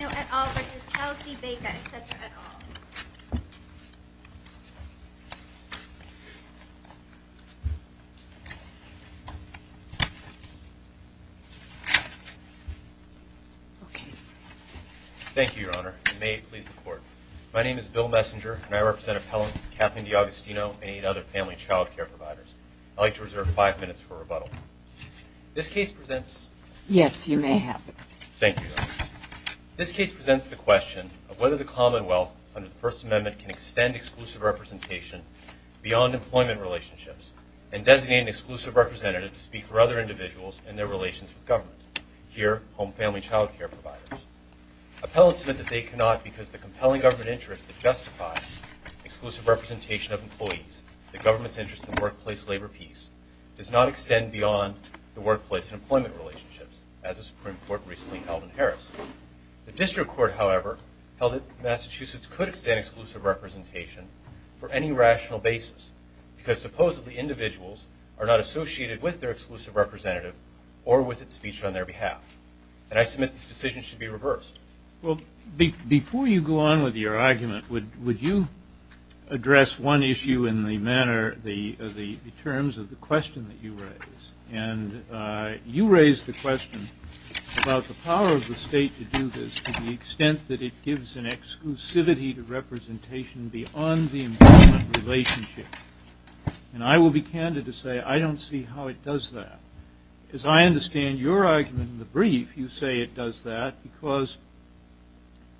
v. Childs v. Baker, etc. et al. Thank you, Your Honor. May it please the Court. My name is Bill Messinger, and I represent appellants Kathleen D'Agostino and eight other family child care providers. I'd like to reserve five minutes for rebuttal. This case presents... Yes, you may have it. Thank you, Your Honor. This case presents the question of whether the Commonwealth, under the First Amendment, can extend exclusive representation beyond employment relationships and designate an exclusive representative to speak for other individuals and their relations with government, here home family child care providers. Appellants admit that they cannot because the compelling government interest that justifies exclusive representation of employees, the government's interest in workplace labor peace, does not extend beyond the workplace employment relationships, as the Supreme Court recently held in Harris. The district court, however, held that Massachusetts could extend exclusive representation for any rational basis because supposedly individuals are not associated with their exclusive representative or with its speech on their behalf. And I submit this decision should be reversed. Well, before you go on with your argument, would you address one issue in the manner of the terms of the question that you raised? And you raised the question about the power of the state to do this, to the extent that it gives an exclusivity to representation beyond the employment relationship. And I will be candid to say I don't see how it does that. As I understand your argument in the brief, you say it does that because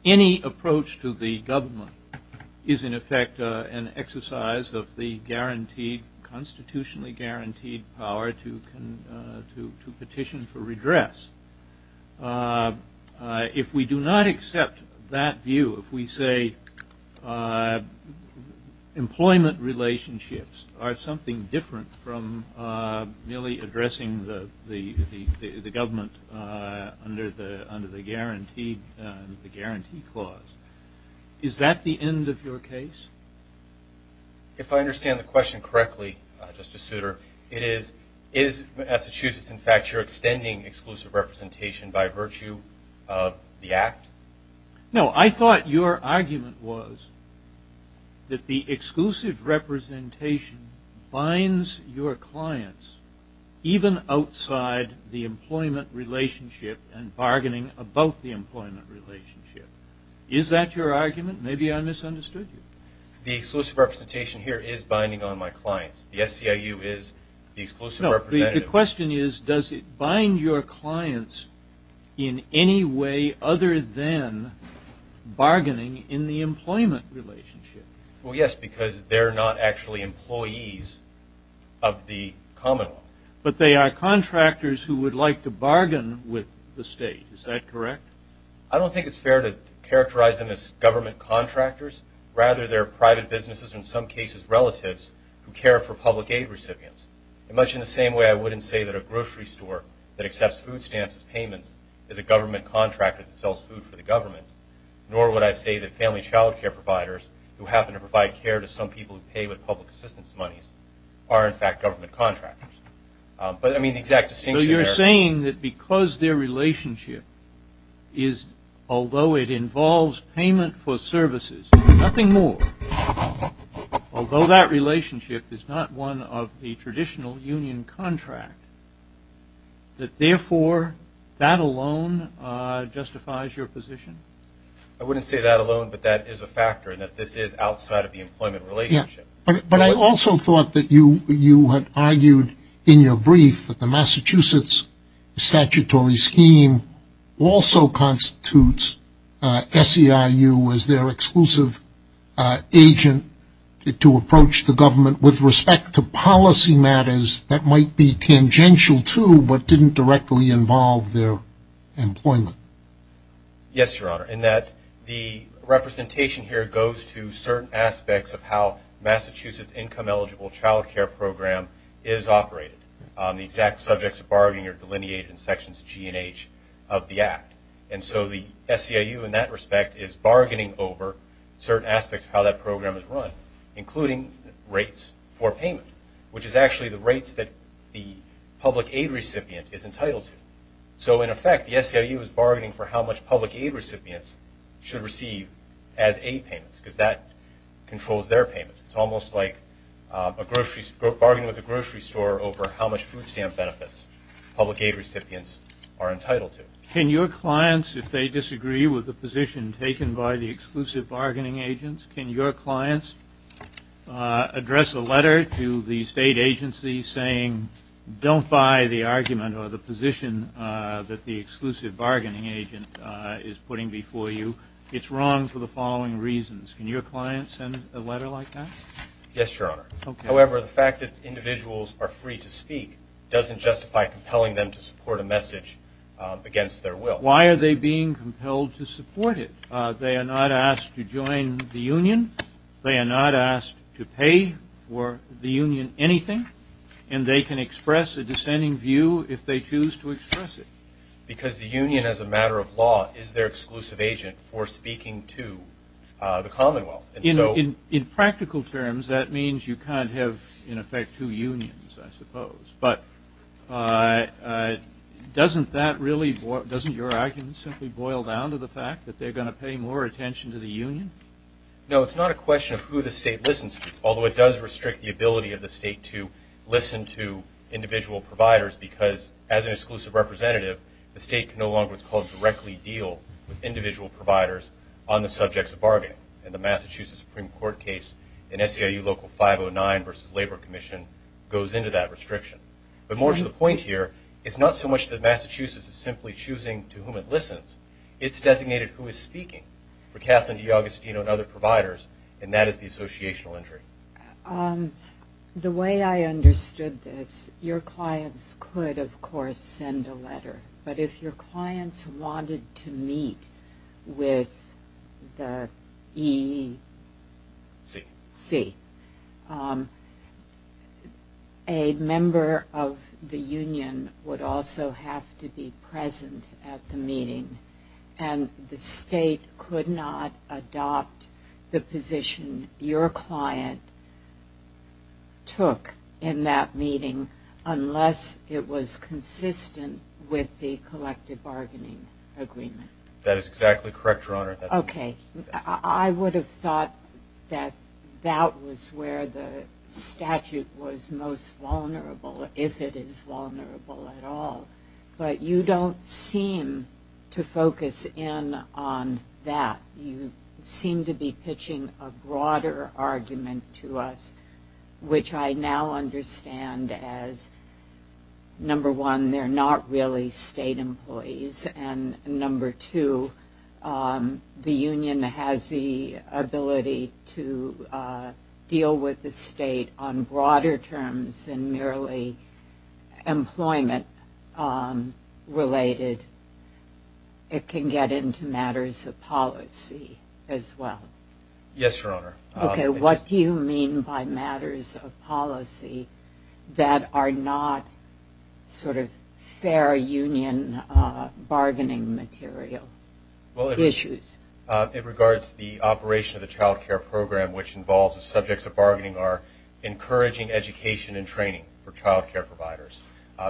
any approach to the government is, in effect, an exercise of the guaranteed, constitutionally guaranteed power to petition for redress. If we do not accept that view, if we say employment relationships are something different from merely addressing the government under the guaranteed clause, is that the end of your case? If I understand the question correctly, Justice Souter, is Massachusetts, in fact, extending exclusive representation by virtue of the act? No, I thought your argument was that the exclusive representation binds your clients, even outside the employment relationship and bargaining about the employment relationship. Is that your argument? Maybe I misunderstood you. The exclusive representation here is binding on my clients. The SEIU is the exclusive representative. No, the question is, does it bind your clients in any way other than bargaining in the employment relationship? Well, yes, because they're not actually employees of the Commonwealth. But they are contractors who would like to bargain with the state. Is that correct? I don't think it's fair to characterize them as government contractors. Rather, they're private businesses, in some cases relatives, who care for public aid recipients. And much in the same way I wouldn't say that a grocery store that accepts food stamps as payments is a government contractor that sells food for the government, nor would I say that family child care providers, who happen to provide care to some people who pay with public assistance monies, are, in fact, government contractors. But, I mean, the exact distinction there. So you're saying that because their relationship is, although it involves payment for services, nothing more, although that relationship is not one of the traditional union contract, that, therefore, that alone justifies your position? I wouldn't say that alone, but that is a factor, and that this is outside of the employment relationship. But I also thought that you had argued in your brief that the Massachusetts statutory scheme also constitutes SEIU as their exclusive agent to approach the government with respect to policy matters that might be tangential to but didn't directly involve their employment. Yes, Your Honor, in that the representation here goes to certain aspects of how Massachusetts income eligible child care program is operated on the exact subjects of bargaining are delineated in sections G and H of the Act. And so the SEIU in that respect is bargaining over certain aspects of how that program is run, including rates for payment, which is actually the rates that the public aid recipient is entitled to. So, in effect, the SEIU is bargaining for how much public aid recipients should receive as aid payments because that controls their payment. It's almost like bargaining with a grocery store over how much food stamp benefits public aid recipients are entitled to. Can your clients, if they disagree with the position taken by the exclusive bargaining agents, can your clients address a letter to the state agency saying, don't buy the argument or the position that the exclusive bargaining agent is putting before you? It's wrong for the following reasons. Can your clients send a letter like that? Yes, Your Honor. However, the fact that individuals are free to speak doesn't justify compelling them to support a message against their will. Why are they being compelled to support it? They are not asked to join the union. They are not asked to pay for the union anything. And they can express a dissenting view if they choose to express it. Because the union, as a matter of law, is their exclusive agent for speaking to the Commonwealth. In practical terms, that means you can't have, in effect, two unions, I suppose. But doesn't that really, doesn't your argument simply boil down to the fact that they're going to pay more attention to the union? No, it's not a question of who the state listens to, although it does restrict the ability of the state to listen to individual providers because, as an exclusive representative, the state can no longer, what's called, directly deal with individual providers on the subjects of bargaining. And the Massachusetts Supreme Court case in SEIU Local 509 versus Labor Commission goes into that restriction. But more to the point here, it's not so much that Massachusetts is simply choosing to whom it listens. It's designated who is speaking for Kathleen D. Agostino and other providers, and that is the associational injury. The way I understood this, your clients could, of course, send a letter. But if your clients wanted to meet with the EC, a member of the union would also have to be present at the meeting. And the state could not adopt the position your client took in that meeting unless it was consistent with the collective bargaining agreement. That is exactly correct, Your Honor. Okay. I would have thought that that was where the statute was most vulnerable, if it is vulnerable at all. But you don't seem to focus in on that. You seem to be pitching a broader argument to us, which I now understand as, number one, they're not really state employees, and number two, the union has the ability to deal with the state on broader terms than merely employment-related. It can get into matters of policy as well. Yes, Your Honor. Okay. What do you mean by matters of policy that are not sort of fair union bargaining material issues? Well, it regards the operation of the child care program, which involves the subjects of bargaining are encouraging education and training for child care providers,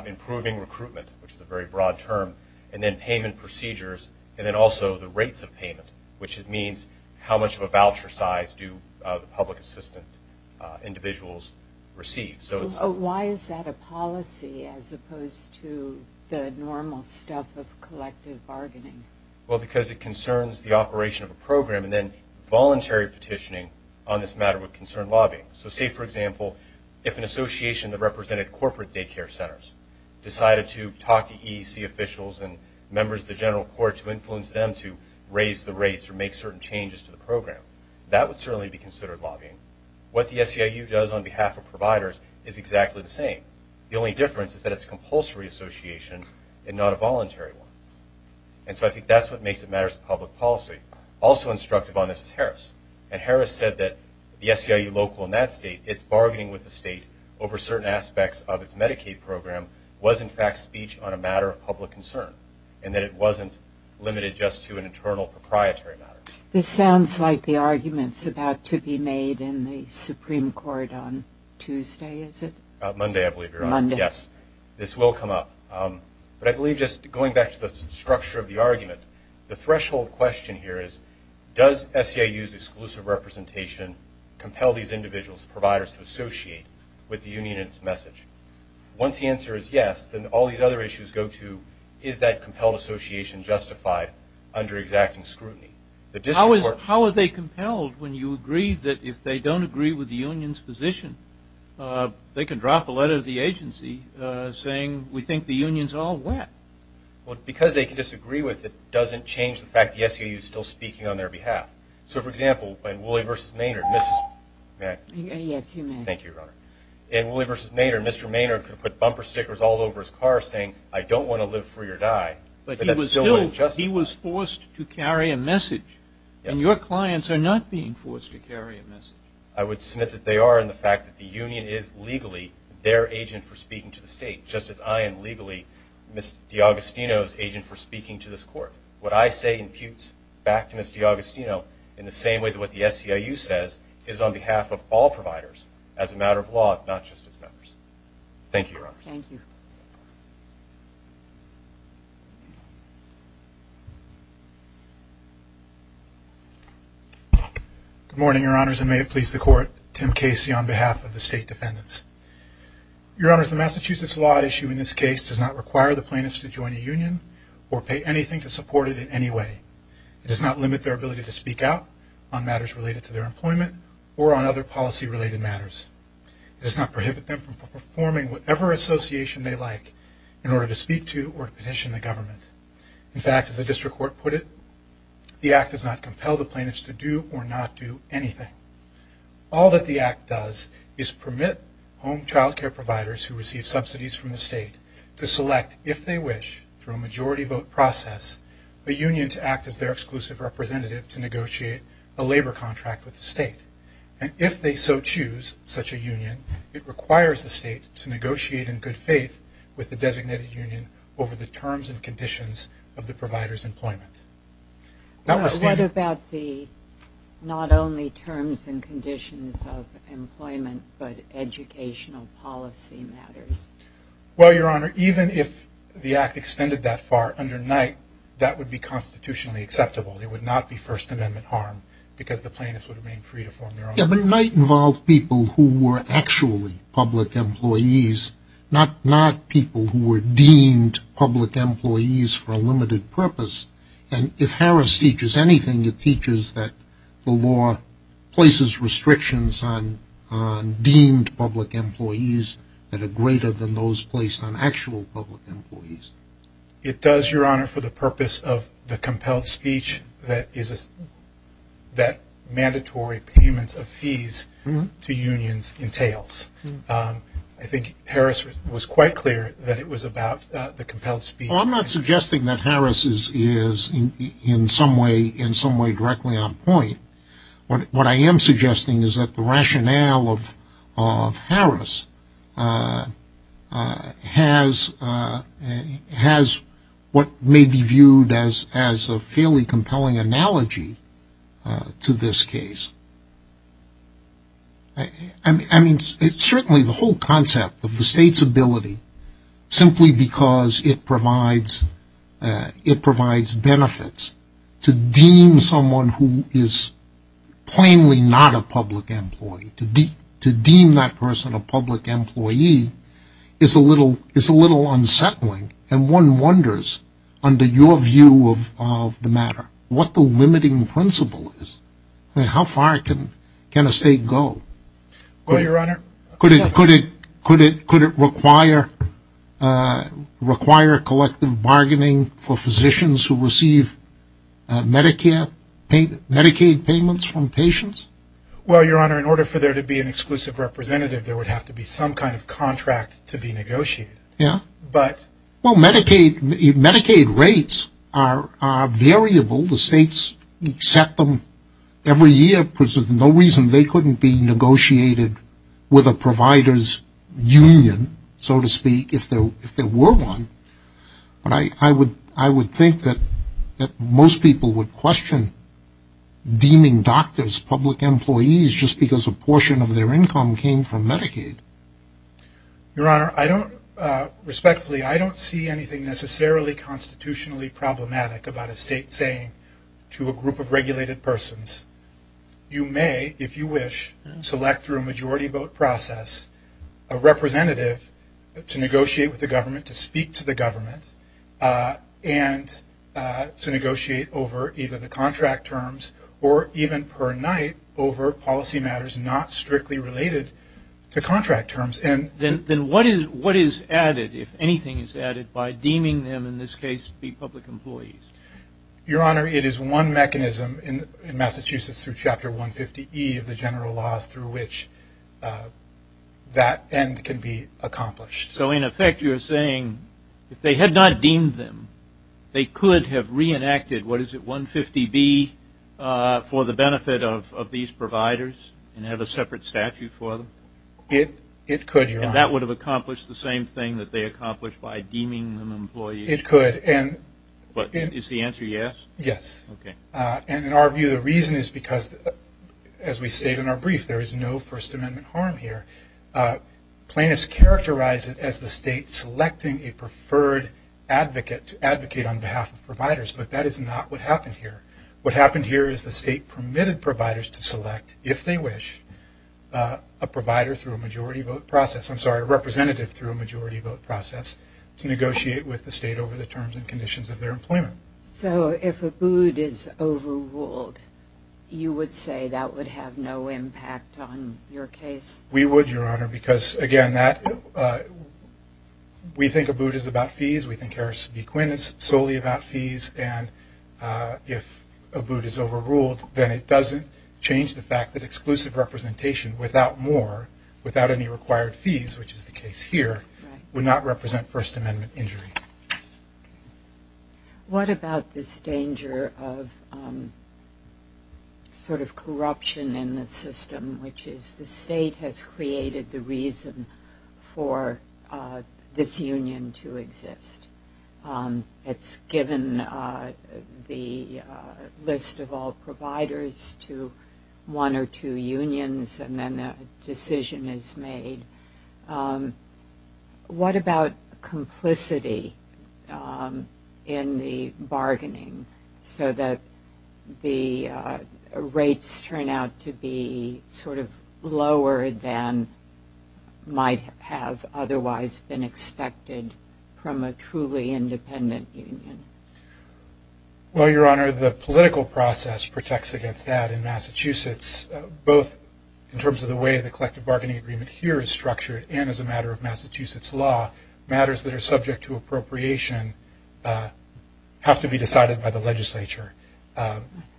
improving recruitment, which is a very broad term, and then payment procedures, and then also the rates of payment, which means how much of a voucher size do the public assistant individuals receive. Why is that a policy as opposed to the normal stuff of collective bargaining? Well, because it concerns the operation of a program, and then voluntary petitioning on this matter would concern lobbying. So say, for example, if an association that represented corporate daycare centers decided to talk to EEC officials and members of the general court to influence them to raise the rates or make certain changes to the program, that would certainly be considered lobbying. What the SEIU does on behalf of providers is exactly the same. The only difference is that it's a compulsory association and not a voluntary one. And so I think that's what makes it matters of public policy. Also instructive on this is Harris, and Harris said that the SEIU local in that state, its bargaining with the state over certain aspects of its Medicaid program was, in fact, speech on a matter of public concern, and that it wasn't limited just to an internal proprietary matter. This sounds like the argument's about to be made in the Supreme Court on Tuesday, is it? Monday, I believe, Your Honor. Monday. Yes. This will come up. But I believe just going back to the structure of the argument, the threshold question here is, does SEIU's exclusive representation compel these individuals, providers, to associate with the union and its message? Once the answer is yes, then all these other issues go to, is that compelled association justified under exacting scrutiny? How are they compelled when you agree that if they don't agree with the union's position, they can drop a letter to the agency saying, we think the union's all wet? Well, because they can disagree with it doesn't change the fact the SEIU's still speaking on their behalf. So, for example, in Woolley v. Maynard, Mr. Maynard could have put bumper stickers all over his car saying, I don't want to live free or die, but that's still unjustified. But he was forced to carry a message, and your clients are not being forced to carry a message. I would submit that they are in the fact that the union is legally their agent for speaking to the state, just as I am legally Ms. DiAugustino's agent for speaking to this court. What I say imputes back to Ms. DiAugustino in the same way that what the SEIU says is on behalf of all providers, as a matter of law, not just its members. Thank you, Your Honors. Thank you. Good morning, Your Honors, and may it please the Court. Tim Casey on behalf of the State Defendants. Your Honors, the Massachusetts law at issue in this case does not require the plaintiffs to join a union or pay anything to support it in any way. It does not limit their ability to speak out on matters related to their employment or on other policy-related matters. It does not prohibit them from performing whatever association they like in order to speak to or petition the government. In fact, as the district court put it, the act does not compel the plaintiffs to do or not do anything. All that the act does is permit home child care providers who receive subsidies from the state to select, if they wish, through a majority vote process, a union to act as their exclusive representative to negotiate a labor contract with the state. And if they so choose such a union, it requires the state to negotiate in good faith with the designated union over the terms and conditions of the provider's employment. What about the not only terms and conditions of employment but educational policy matters? Well, Your Honor, even if the act extended that far under Knight, that would be constitutionally acceptable. It would not be First Amendment harm because the plaintiffs would remain free to form their own groups. Yeah, but Knight involved people who were actually public employees, not people who were deemed public employees for a limited purpose. And if Harris teaches anything, it teaches that the law places restrictions on deemed public employees that are greater than those placed on actual public employees. It does, Your Honor, for the purpose of the compelled speech that mandatory payments of fees to unions entails. I think Harris was quite clear that it was about the compelled speech. Well, I'm not suggesting that Harris is in some way directly on point. What I am suggesting is that the rationale of Harris has what may be viewed as a fairly compelling analogy to this case. I mean, certainly the whole concept of the state's ability, simply because it provides benefits to deem someone who is plainly not a public employee, to deem that person a public employee, is a little unsettling. And one wonders, under your view of the matter, what the limiting principle is. I mean, how far can a state go? Well, Your Honor. Could it require collective bargaining for physicians who receive Medicaid payments from patients? Well, Your Honor, in order for there to be an exclusive representative, there would have to be some kind of contract to be negotiated. Yeah. Well, Medicaid rates are variable. The states accept them every year. There's no reason they couldn't be negotiated with a provider's union, so to speak, if there were one. But I would think that most people would question deeming doctors public employees just because a portion of their income came from Medicaid. Your Honor, respectfully, I don't see anything necessarily constitutionally problematic about a state saying to a group of regulated persons, you may, if you wish, select through a majority vote process a representative to negotiate with the government, to speak to the government, and to negotiate over either the contract terms or even per night over policy matters not strictly related to contract terms. Then what is added, if anything is added, by deeming them, in this case, to be public employees? Your Honor, it is one mechanism in Massachusetts through Chapter 150E of the general laws So, in effect, you're saying if they had not deemed them, they could have reenacted, what is it, 150B for the benefit of these providers and have a separate statute for them? It could, Your Honor. And that would have accomplished the same thing that they accomplished by deeming them employees? It could. Is the answer yes? Yes. And in our view, the reason is because, as we state in our brief, there is no First Amendment harm here. Plaintiffs characterize it as the state selecting a preferred advocate to advocate on behalf of providers, but that is not what happened here. What happened here is the state permitted providers to select, if they wish, a provider through a majority vote process, I'm sorry, a representative through a majority vote process, to negotiate with the state over the terms and conditions of their employment. So, if Abood is overruled, you would say that would have no impact on your case? We would, Your Honor, because, again, we think Abood is about fees. We think Harris v. Quinn is solely about fees. And if Abood is overruled, then it doesn't change the fact that exclusive representation without more, without any required fees, which is the case here, would not represent First Amendment injury. What about this danger of sort of corruption in the system, which is the state has created the reason for this union to exist? It's given the list of all providers to one or two unions, and then a decision is made. What about complicity in the bargaining so that the rates turn out to be sort of lower than might have otherwise been expected from a truly independent union? Well, Your Honor, the political process protects against that in Massachusetts, both in terms of the way the collective bargaining agreement here is structured and as a matter of Massachusetts law. Matters that are subject to appropriation have to be decided by the legislature.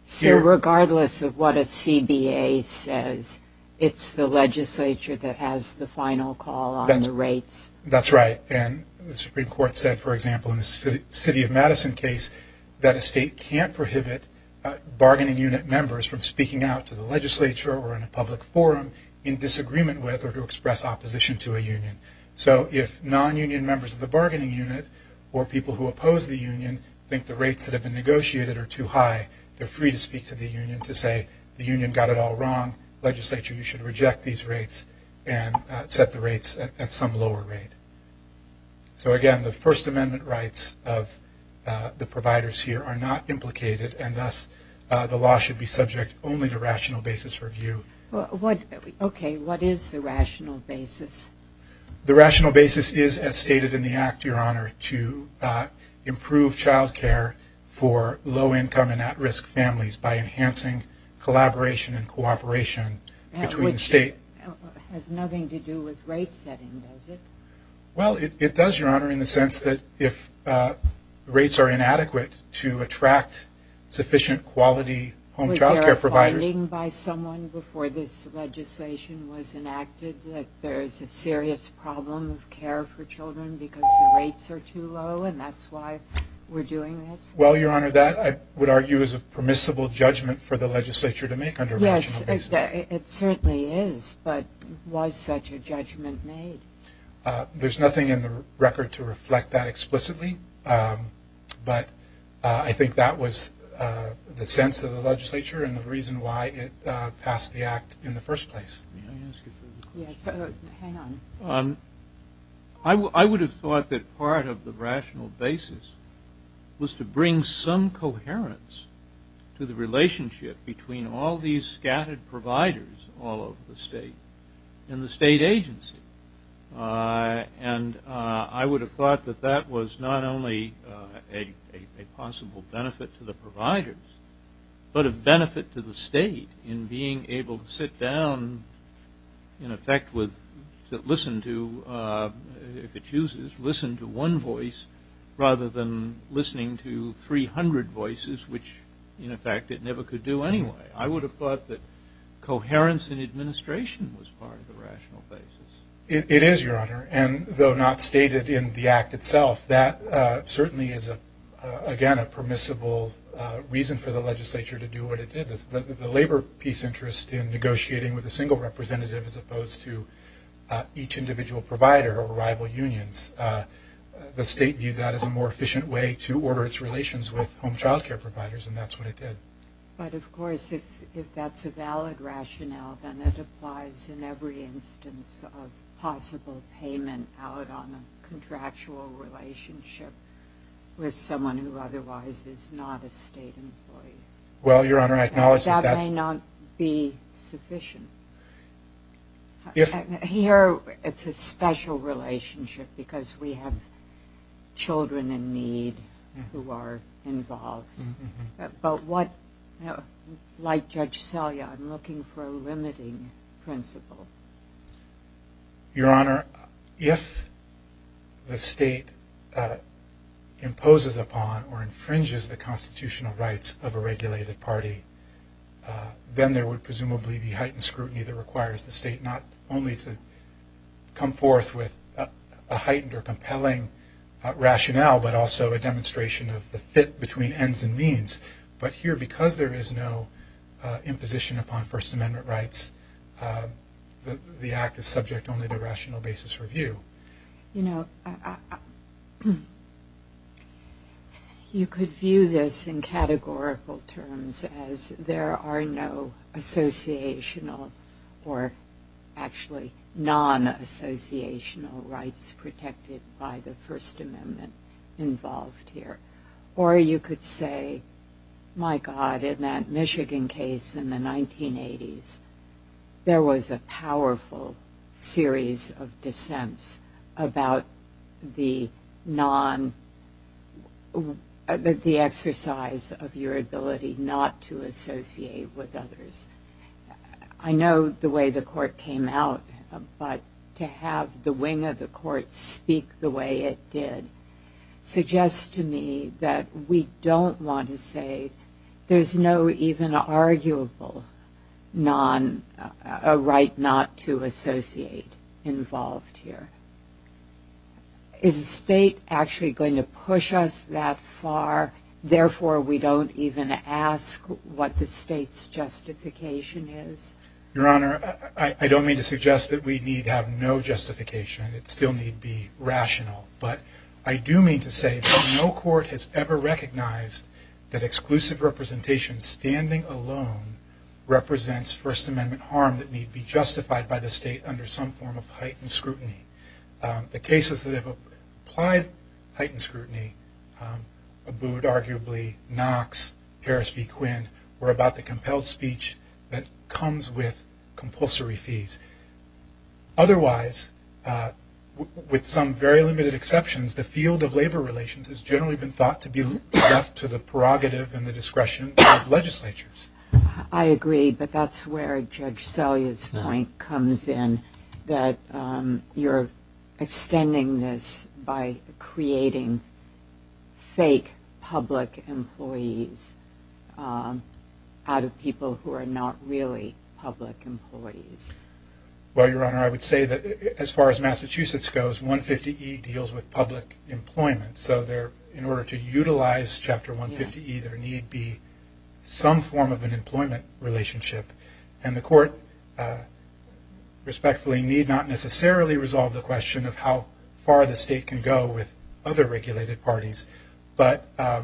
So, regardless of what a CBA says, it's the legislature that has the final call on the rates? That's right. And the Supreme Court said, for example, in the city of Madison case, that a state can't prohibit bargaining unit members from speaking out to the legislature or in a public forum in disagreement with or to express opposition to a union. So if non-union members of the bargaining unit or people who oppose the union think the rates that have been negotiated are too high, they're free to speak to the union to say, the union got it all wrong. Legislature, you should reject these rates and set the rates at some lower rate. So, again, the First Amendment rights of the providers here are not implicated and thus the law should be subject only to rational basis review. Okay, what is the rational basis? The rational basis is, as stated in the Act, Your Honor, to improve child care for low-income and at-risk families by enhancing collaboration and cooperation between the state. But it has nothing to do with rate setting, does it? Well, it does, Your Honor, in the sense that if rates are inadequate to attract sufficient quality home child care providers. Was there a finding by someone before this legislation was enacted that there is a serious problem of care for children because the rates are too low and that's why we're doing this? Well, Your Honor, that I would argue is a permissible judgment for the legislature to make under rational basis. It certainly is, but was such a judgment made? There's nothing in the record to reflect that explicitly, but I think that was the sense of the legislature and the reason why it passed the Act in the first place. May I ask you a further question? Yes, hang on. I would have thought that part of the rational basis was to bring some coherence to the relationship between all these scattered providers all over the state and the state agency. And I would have thought that that was not only a possible benefit to the providers, but a benefit to the state in being able to sit down, in effect, to listen to, if it chooses, listen to one voice rather than listening to 300 voices which, in effect, it never could do anyway. I would have thought that coherence in administration was part of the rational basis. It is, Your Honor, and though not stated in the Act itself, that certainly is, again, a permissible reason for the legislature to do what it did. The labor peace interest in negotiating with a single representative as opposed to each individual provider or rival unions, the state viewed that as a more efficient way to order its relations with home child care providers, and that's what it did. But, of course, if that's a valid rationale, then it applies in every instance of possible payment out on a contractual relationship with someone who otherwise is not a state employee. Well, Your Honor, I acknowledge that that's... That may not be sufficient. If... Here, it's a special relationship because we have children in need who are involved. But what... Like Judge Selya, I'm looking for a limiting principle. Your Honor, if the state imposes upon or infringes the constitutional rights of a regulated party, then there would presumably be heightened scrutiny that requires the state not only to come forth with a heightened or compelling rationale, but also a demonstration of the fit between ends and means. But here, because there is no imposition upon First Amendment rights, the Act is subject only to rational basis review. You know, you could view this in categorical terms as there are no associational or actually non-associational rights protected by the First Amendment involved here. Or you could say, my God, in that Michigan case in the 1980s, there was a powerful series of dissents about the non... The exercise of your ability not to associate with others. I know the way the court came out, but to have the wing of the court speak the way it did suggests to me that we don't want to say there's no even arguable right not to associate involved here. Is the state actually going to push us that far, therefore we don't even ask what the state's justification is? Your Honor, I don't mean to suggest that we need have no justification. It still need be rational. But I do mean to say that no court has ever recognized that exclusive representation standing alone represents First Amendment harm that need be justified by the state under some form of heightened scrutiny. The cases that have applied heightened scrutiny, Abboud arguably, Knox, Harris v. Quinn, were about the compelled speech that comes with compulsory fees. Otherwise, with some very limited exceptions, the field of labor relations has generally been thought to be left to the prerogative and the discretion of legislatures. I agree, but that's where Judge Selye's point comes in, that you're extending this by creating fake public employees out of people who are not really public employees. Well, Your Honor, I would say that as far as Massachusetts goes, 150E deals with public employment. So in order to utilize Chapter 150E, there need be some form of an employment relationship. And the Court, respectfully, need not necessarily resolve the question of how far the state can go with other regulated parties. But I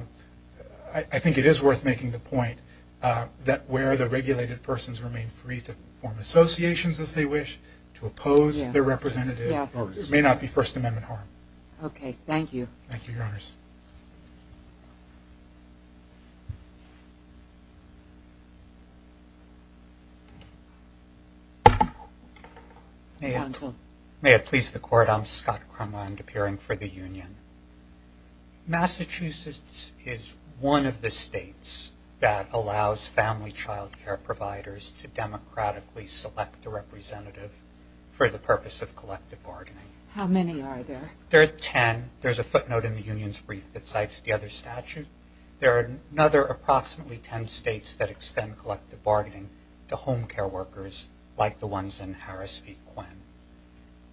think it is worth making the point that where the regulated persons remain free to form associations as they wish, to oppose their representative, it may not be First Amendment harm. Okay. Thank you. Thank you, Your Honors. May I please the Court? I'm Scott Crumland, appearing for the Union. Massachusetts is one of the states that allows family child care providers to democratically select a representative for the purpose of collective bargaining. How many are there? There are ten. There's a footnote in the Union's brief that cites the other statute. There are another approximately ten states that extend collective bargaining to home care workers like the ones in Harris v. Quinn.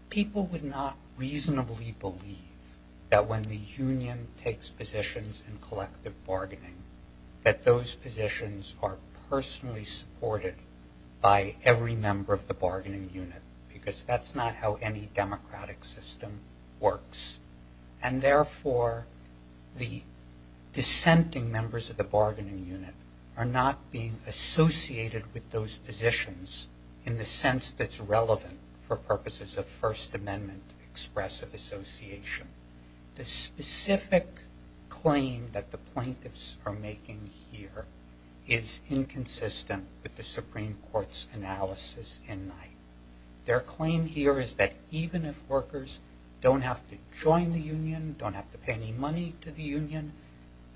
People would not reasonably believe that when the Union takes positions in collective bargaining that those positions are personally supported by every member of the bargaining unit because that's not how any democratic system works. And therefore, the dissenting members of the bargaining unit are not being associated with those positions in the sense that's relevant for purposes of First Amendment expressive association. The specific claim that the plaintiffs are making here is inconsistent with the Supreme Court's analysis in Knight. Their claim here is that even if workers don't have to join the Union, don't have to pay any money to the Union,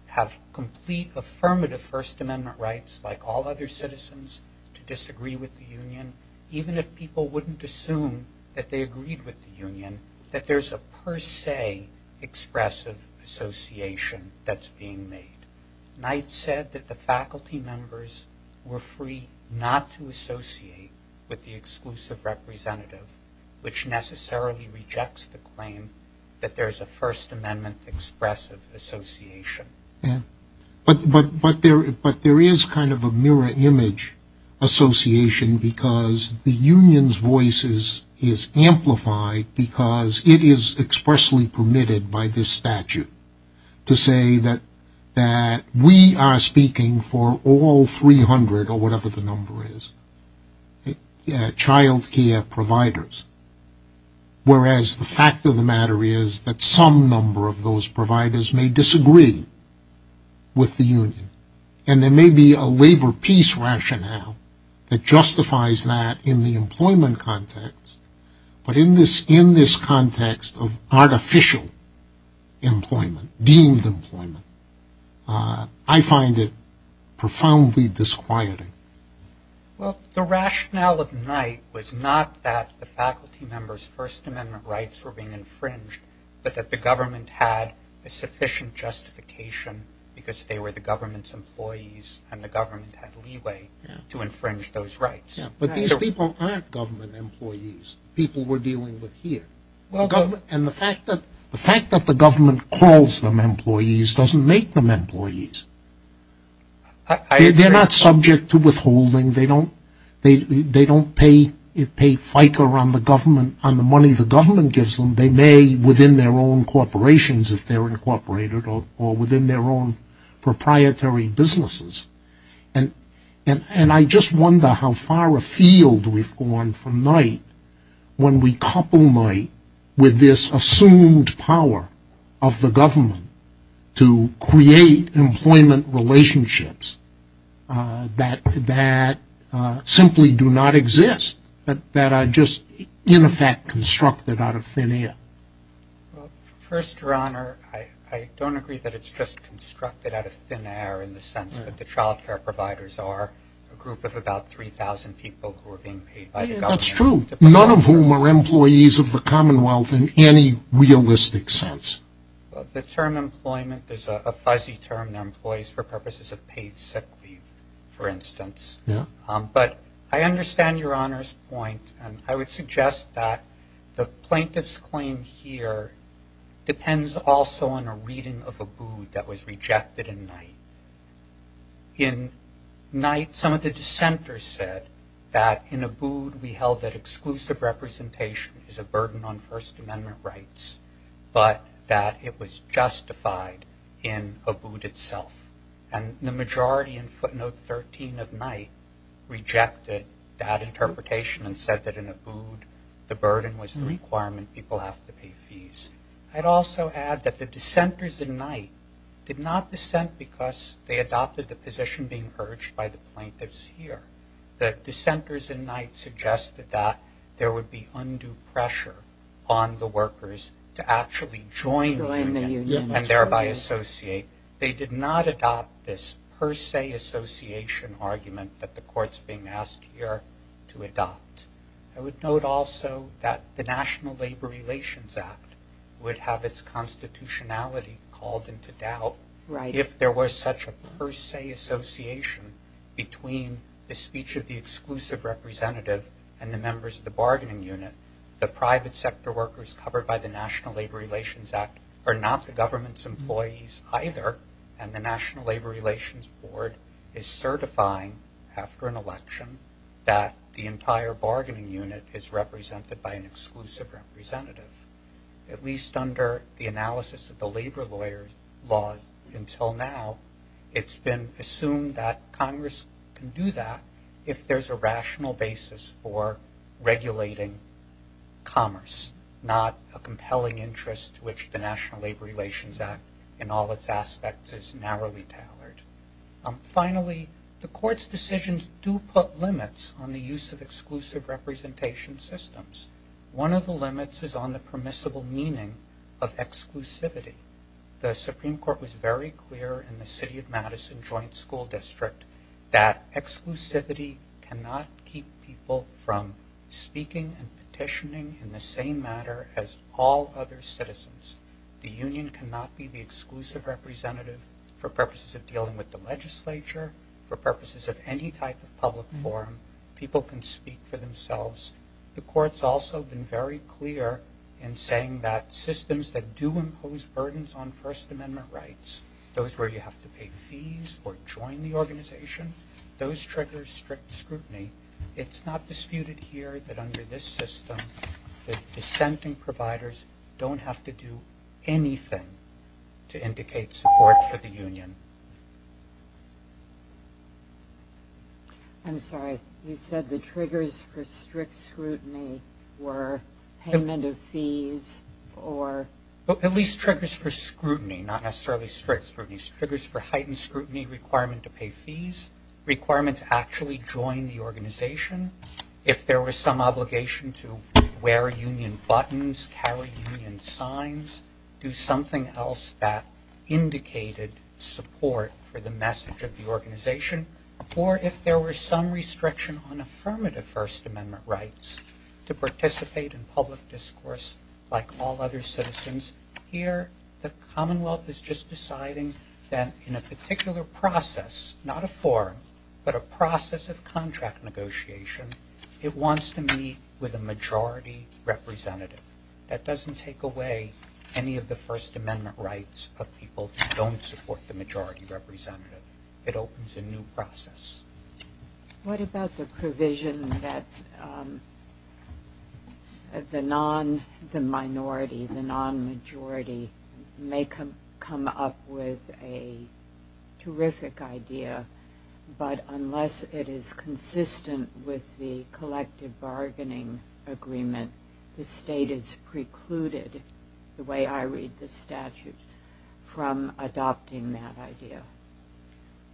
have complete affirmative First Amendment rights like all other citizens to disagree with the Union, even if people wouldn't assume that they agreed with the Union, that there's a per se expressive association that's being made. Knight said that the faculty members were free not to associate with the exclusive representative which necessarily rejects the claim that there's a First Amendment expressive association. But there is kind of a mirror image association because the Union's voice is amplified because it is expressly permitted by this statute to say that we are speaking for all 300 or whatever the number is, child care providers, whereas the fact of the matter is that some number of those providers may disagree with the Union. And there may be a labor peace rationale that justifies that in the employment context, but in this context of artificial employment, deemed employment, I find it profoundly disquieting. Well, the rationale of Knight was not that the faculty members' First Amendment rights were being infringed, but that the government had a sufficient justification because they were the government's employees and the government had leeway to infringe those rights. Yeah, but these people aren't government employees, people we're dealing with here. And the fact that the government calls them employees doesn't make them employees. They're not subject to withholding. They don't pay FICA on the money the government gives them. They may within their own corporations if they're incorporated or within their own proprietary businesses. And I just wonder how far afield we've gone from Knight when we couple Knight with this assumed power of the government to create employment relationships that simply do not exist, that are just in effect constructed out of thin air. Well, first, your honor, I don't agree that it's just constructed out of thin air in the sense that the child care providers are a group of about 3,000 people who are being paid by the government. That's true. None of whom are employees of the Commonwealth in any realistic sense. The term employment is a fuzzy term. They're employees for purposes of paid sick leave, for instance. But I understand your honor's point, and I would suggest that the plaintiff's claim here depends also on a reading of Abood that was rejected in Knight. In Knight, some of the dissenters said that in Abood we held that exclusive representation is a burden on First Amendment rights, but that it was justified in Abood itself. And the majority in footnote 13 of Knight rejected that interpretation and said that in Abood the burden was the requirement people have to pay fees. I'd also add that the dissenters in Knight did not dissent because they adopted the position being urged by the plaintiffs here. The dissenters in Knight suggested that there would be undue pressure on the workers to actually join the union and thereby associate. They did not adopt this per se association argument that the court's being asked here to adopt. I would note also that the National Labor Relations Act would have its constitutionality called into doubt if there was such a per se association between the speech of the exclusive representative and the members of the bargaining unit. The private sector workers covered by the National Labor Relations Act are not the government's employees either, and the National Labor Relations Board is certifying after an election that the entire bargaining unit is represented by an exclusive representative. At least under the analysis of the labor law until now, it's been assumed that Congress can do that if there's a rational basis for regulating commerce, not a compelling interest to which the National Labor Relations Act in all its aspects is narrowly tailored. Finally, the court's decisions do put limits on the use of exclusive representation systems. One of the limits is on the permissible meaning of exclusivity. The Supreme Court was very clear in the City of Madison Joint School District that exclusivity cannot keep people from speaking and petitioning in the same manner as all other citizens. The union cannot be the exclusive representative for purposes of dealing with the legislature, for purposes of any type of public forum. People can speak for themselves. The court's also been very clear in saying that systems that do impose burdens on First Amendment rights, those where you have to pay fees or join the organization, those trigger strict scrutiny. It's not disputed here that under this system, the dissenting providers don't have to do anything to indicate support for the union. I'm sorry, you said the triggers for strict scrutiny were payment of fees or... At least triggers for scrutiny, not necessarily strict scrutiny. Triggers for heightened scrutiny, requirement to pay fees, requirements to actually join the organization. If there was some obligation to wear union buttons, carry union signs, do something else that indicated support for the message of the organization. Or if there were some restriction on affirmative First Amendment rights to participate in public discourse like all other citizens. Here, the Commonwealth is just deciding that in a particular process, not a forum, but a process of contract negotiation, it wants to meet with a majority representative. That doesn't take away any of the First Amendment rights of people who don't support the majority representative. It opens a new process. What about the provision that the minority, the non-majority, may come up with a terrific idea, but unless it is consistent with the collective bargaining agreement, the state is precluded, the way I read the statute, from adopting that idea?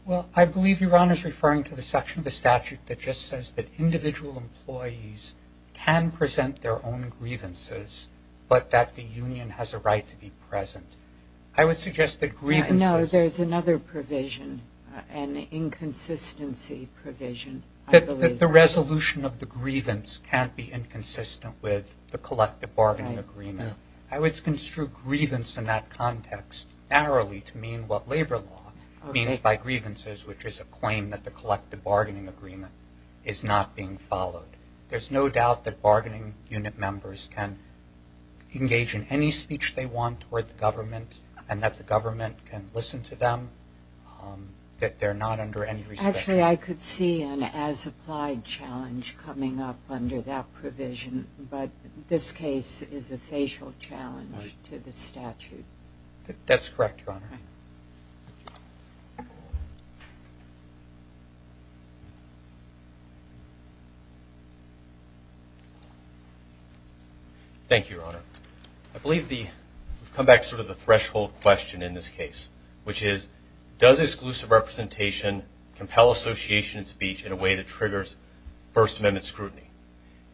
Well, I believe you, Ron, are referring to the section of the statute that just says that individual employees can present their own grievances, but that the union has a right to be present. I would suggest that grievances... No, there's another provision, an inconsistency provision, I believe. That the resolution of the grievance can't be inconsistent with the collective bargaining agreement. I would construe grievance in that context narrowly to mean what labor law means by grievances, which is a claim that the collective bargaining agreement is not being followed. There's no doubt that bargaining unit members can engage in any speech they want toward the government, and that the government can listen to them, that they're not under any restriction. Actually, I could see an as-applied challenge coming up under that provision, but this case is a facial challenge to the statute. That's correct, Your Honor. Thank you, Your Honor. I believe we've come back to sort of the threshold question in this case, which is, does exclusive representation compel association in speech in a way that triggers First Amendment scrutiny?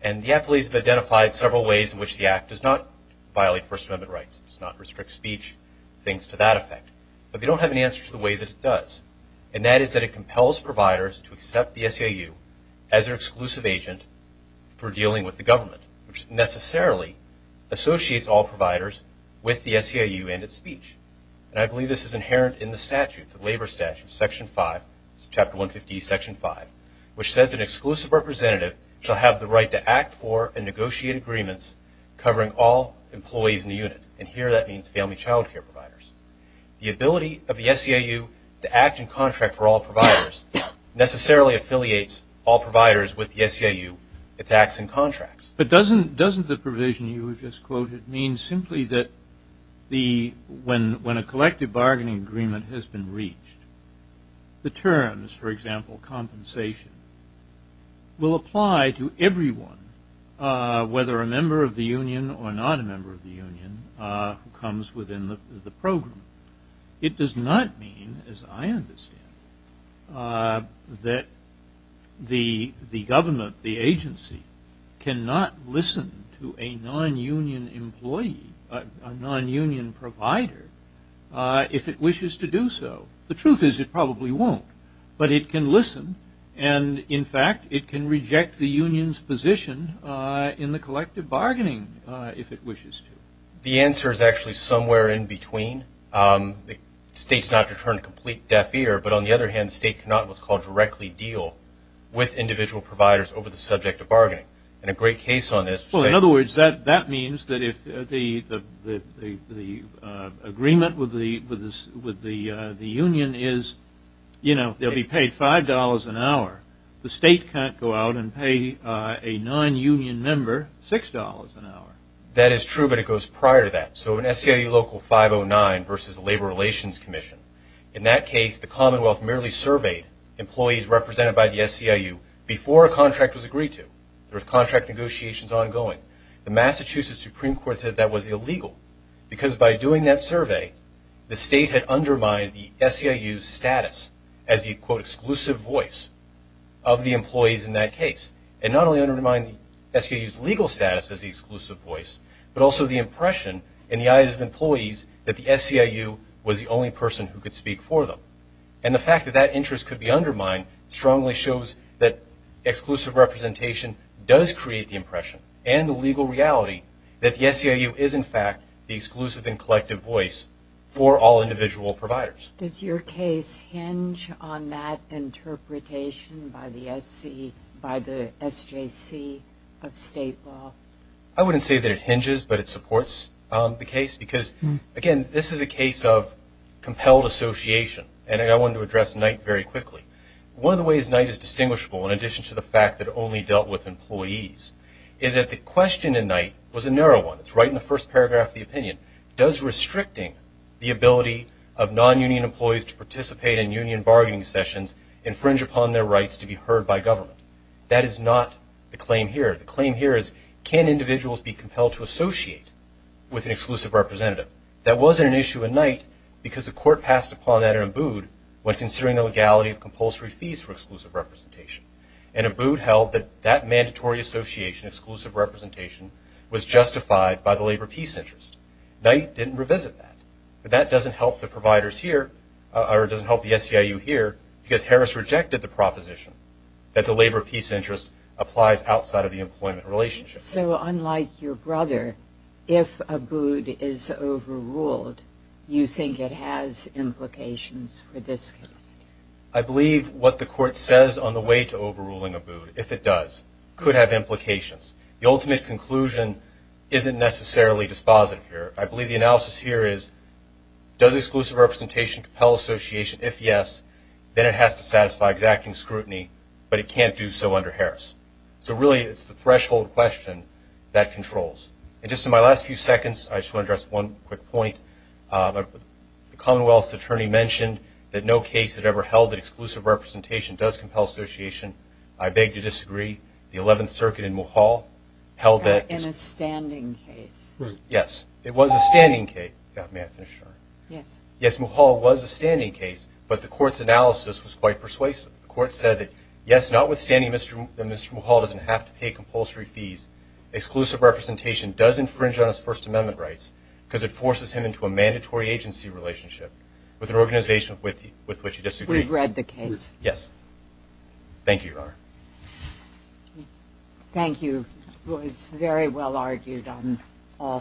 And the appellees have identified several ways in which the Act does not violate First Amendment rights. It does not restrict speech, things to that effect. But they don't have an answer to the way that it does, and that is that it compels providers to accept the SEAU as their exclusive agent for dealing with the government, which necessarily associates all providers with the SEAU and its speech. And I believe this is inherent in the statute, the labor statute, Section 5, Chapter 150, Section 5, which says an exclusive representative shall have the right to act for and negotiate agreements covering all employees in the unit. And here that means family child care providers. The ability of the SEAU to act and contract for all providers necessarily affiliates all providers with the SEAU, its acts and contracts. But doesn't the provision you have just quoted mean simply that when a collective bargaining agreement has been reached, the terms, for example, compensation, will apply to everyone, whether a member of the union or not a member of the union, who comes within the program. It does not mean, as I understand it, that the government, the agency, cannot listen to a non-union employee, a non-union provider, if it wishes to do so. The truth is it probably won't. But it can listen and, in fact, it can reject the union's position in the collective bargaining if it wishes to. The answer is actually somewhere in between. The state's not to turn a complete deaf ear, but on the other hand the state cannot what's called directly deal with individual providers over the subject of bargaining, and a great case on this. Well, in other words, that means that if the agreement with the union is, you know, they'll be paid $5 an hour. The state can't go out and pay a non-union member $6 an hour. That is true, but it goes prior to that. So in SCIU Local 509 versus the Labor Relations Commission, in that case the Commonwealth merely surveyed employees represented by the SCIU before a contract was agreed to. There was contract negotiations ongoing. The Massachusetts Supreme Court said that was illegal because by doing that survey, the state had undermined the SCIU's status as the, quote, exclusive voice of the employees in that case, and not only undermined the SCIU's legal status as the exclusive voice, but also the impression in the eyes of employees that the SCIU was the only person who could speak for them. And the fact that that interest could be undermined strongly shows that exclusive representation does create the impression and the legal reality that the SCIU is, in fact, the exclusive and collective voice for all individual providers. Does your case hinge on that interpretation by the SJC of state law? I wouldn't say that it hinges, but it supports the case because, again, this is a case of compelled association, and I wanted to address Knight very quickly. One of the ways Knight is distinguishable, in addition to the fact that it only dealt with employees, is that the question in Knight was a narrow one. It's right in the first paragraph of the opinion. Does restricting the ability of non-union employees to participate in union bargaining sessions infringe upon their rights to be heard by government? That is not the claim here. The claim here is, can individuals be compelled to associate with an exclusive representative? That wasn't an issue in Knight because the court passed upon that in Abood when considering the legality of compulsory fees for exclusive representation. And Abood held that that mandatory association, exclusive representation, was justified by the labor peace interest. Knight didn't revisit that. But that doesn't help the providers here, or it doesn't help the SEIU here, because Harris rejected the proposition that the labor peace interest applies outside of the employment relationship. So unlike your brother, if Abood is overruled, you think it has implications for this case? I believe what the court says on the way to overruling Abood, if it does, could have implications. The ultimate conclusion isn't necessarily dispositive here. I believe the analysis here is, does exclusive representation compel association? If yes, then it has to satisfy exacting scrutiny, but it can't do so under Harris. So really it's the threshold question that controls. And just in my last few seconds, I just want to address one quick point. The Commonwealth's attorney mentioned that no case had ever held that exclusive representation does compel association. I beg to disagree. The 11th Circuit in Mulhall held that. In a standing case. Right. Yes. It was a standing case. May I finish? Yes. Yes, Mulhall was a standing case, but the court's analysis was quite persuasive. The court said that, yes, notwithstanding that Mr. Mulhall doesn't have to pay compulsory fees, exclusive representation does infringe on his First Amendment rights because it forces him into a mandatory agency relationship with an organization with which he disagrees. We've read the case. Yes. Thank you, Your Honor. Thank you. It was very well argued on all sides.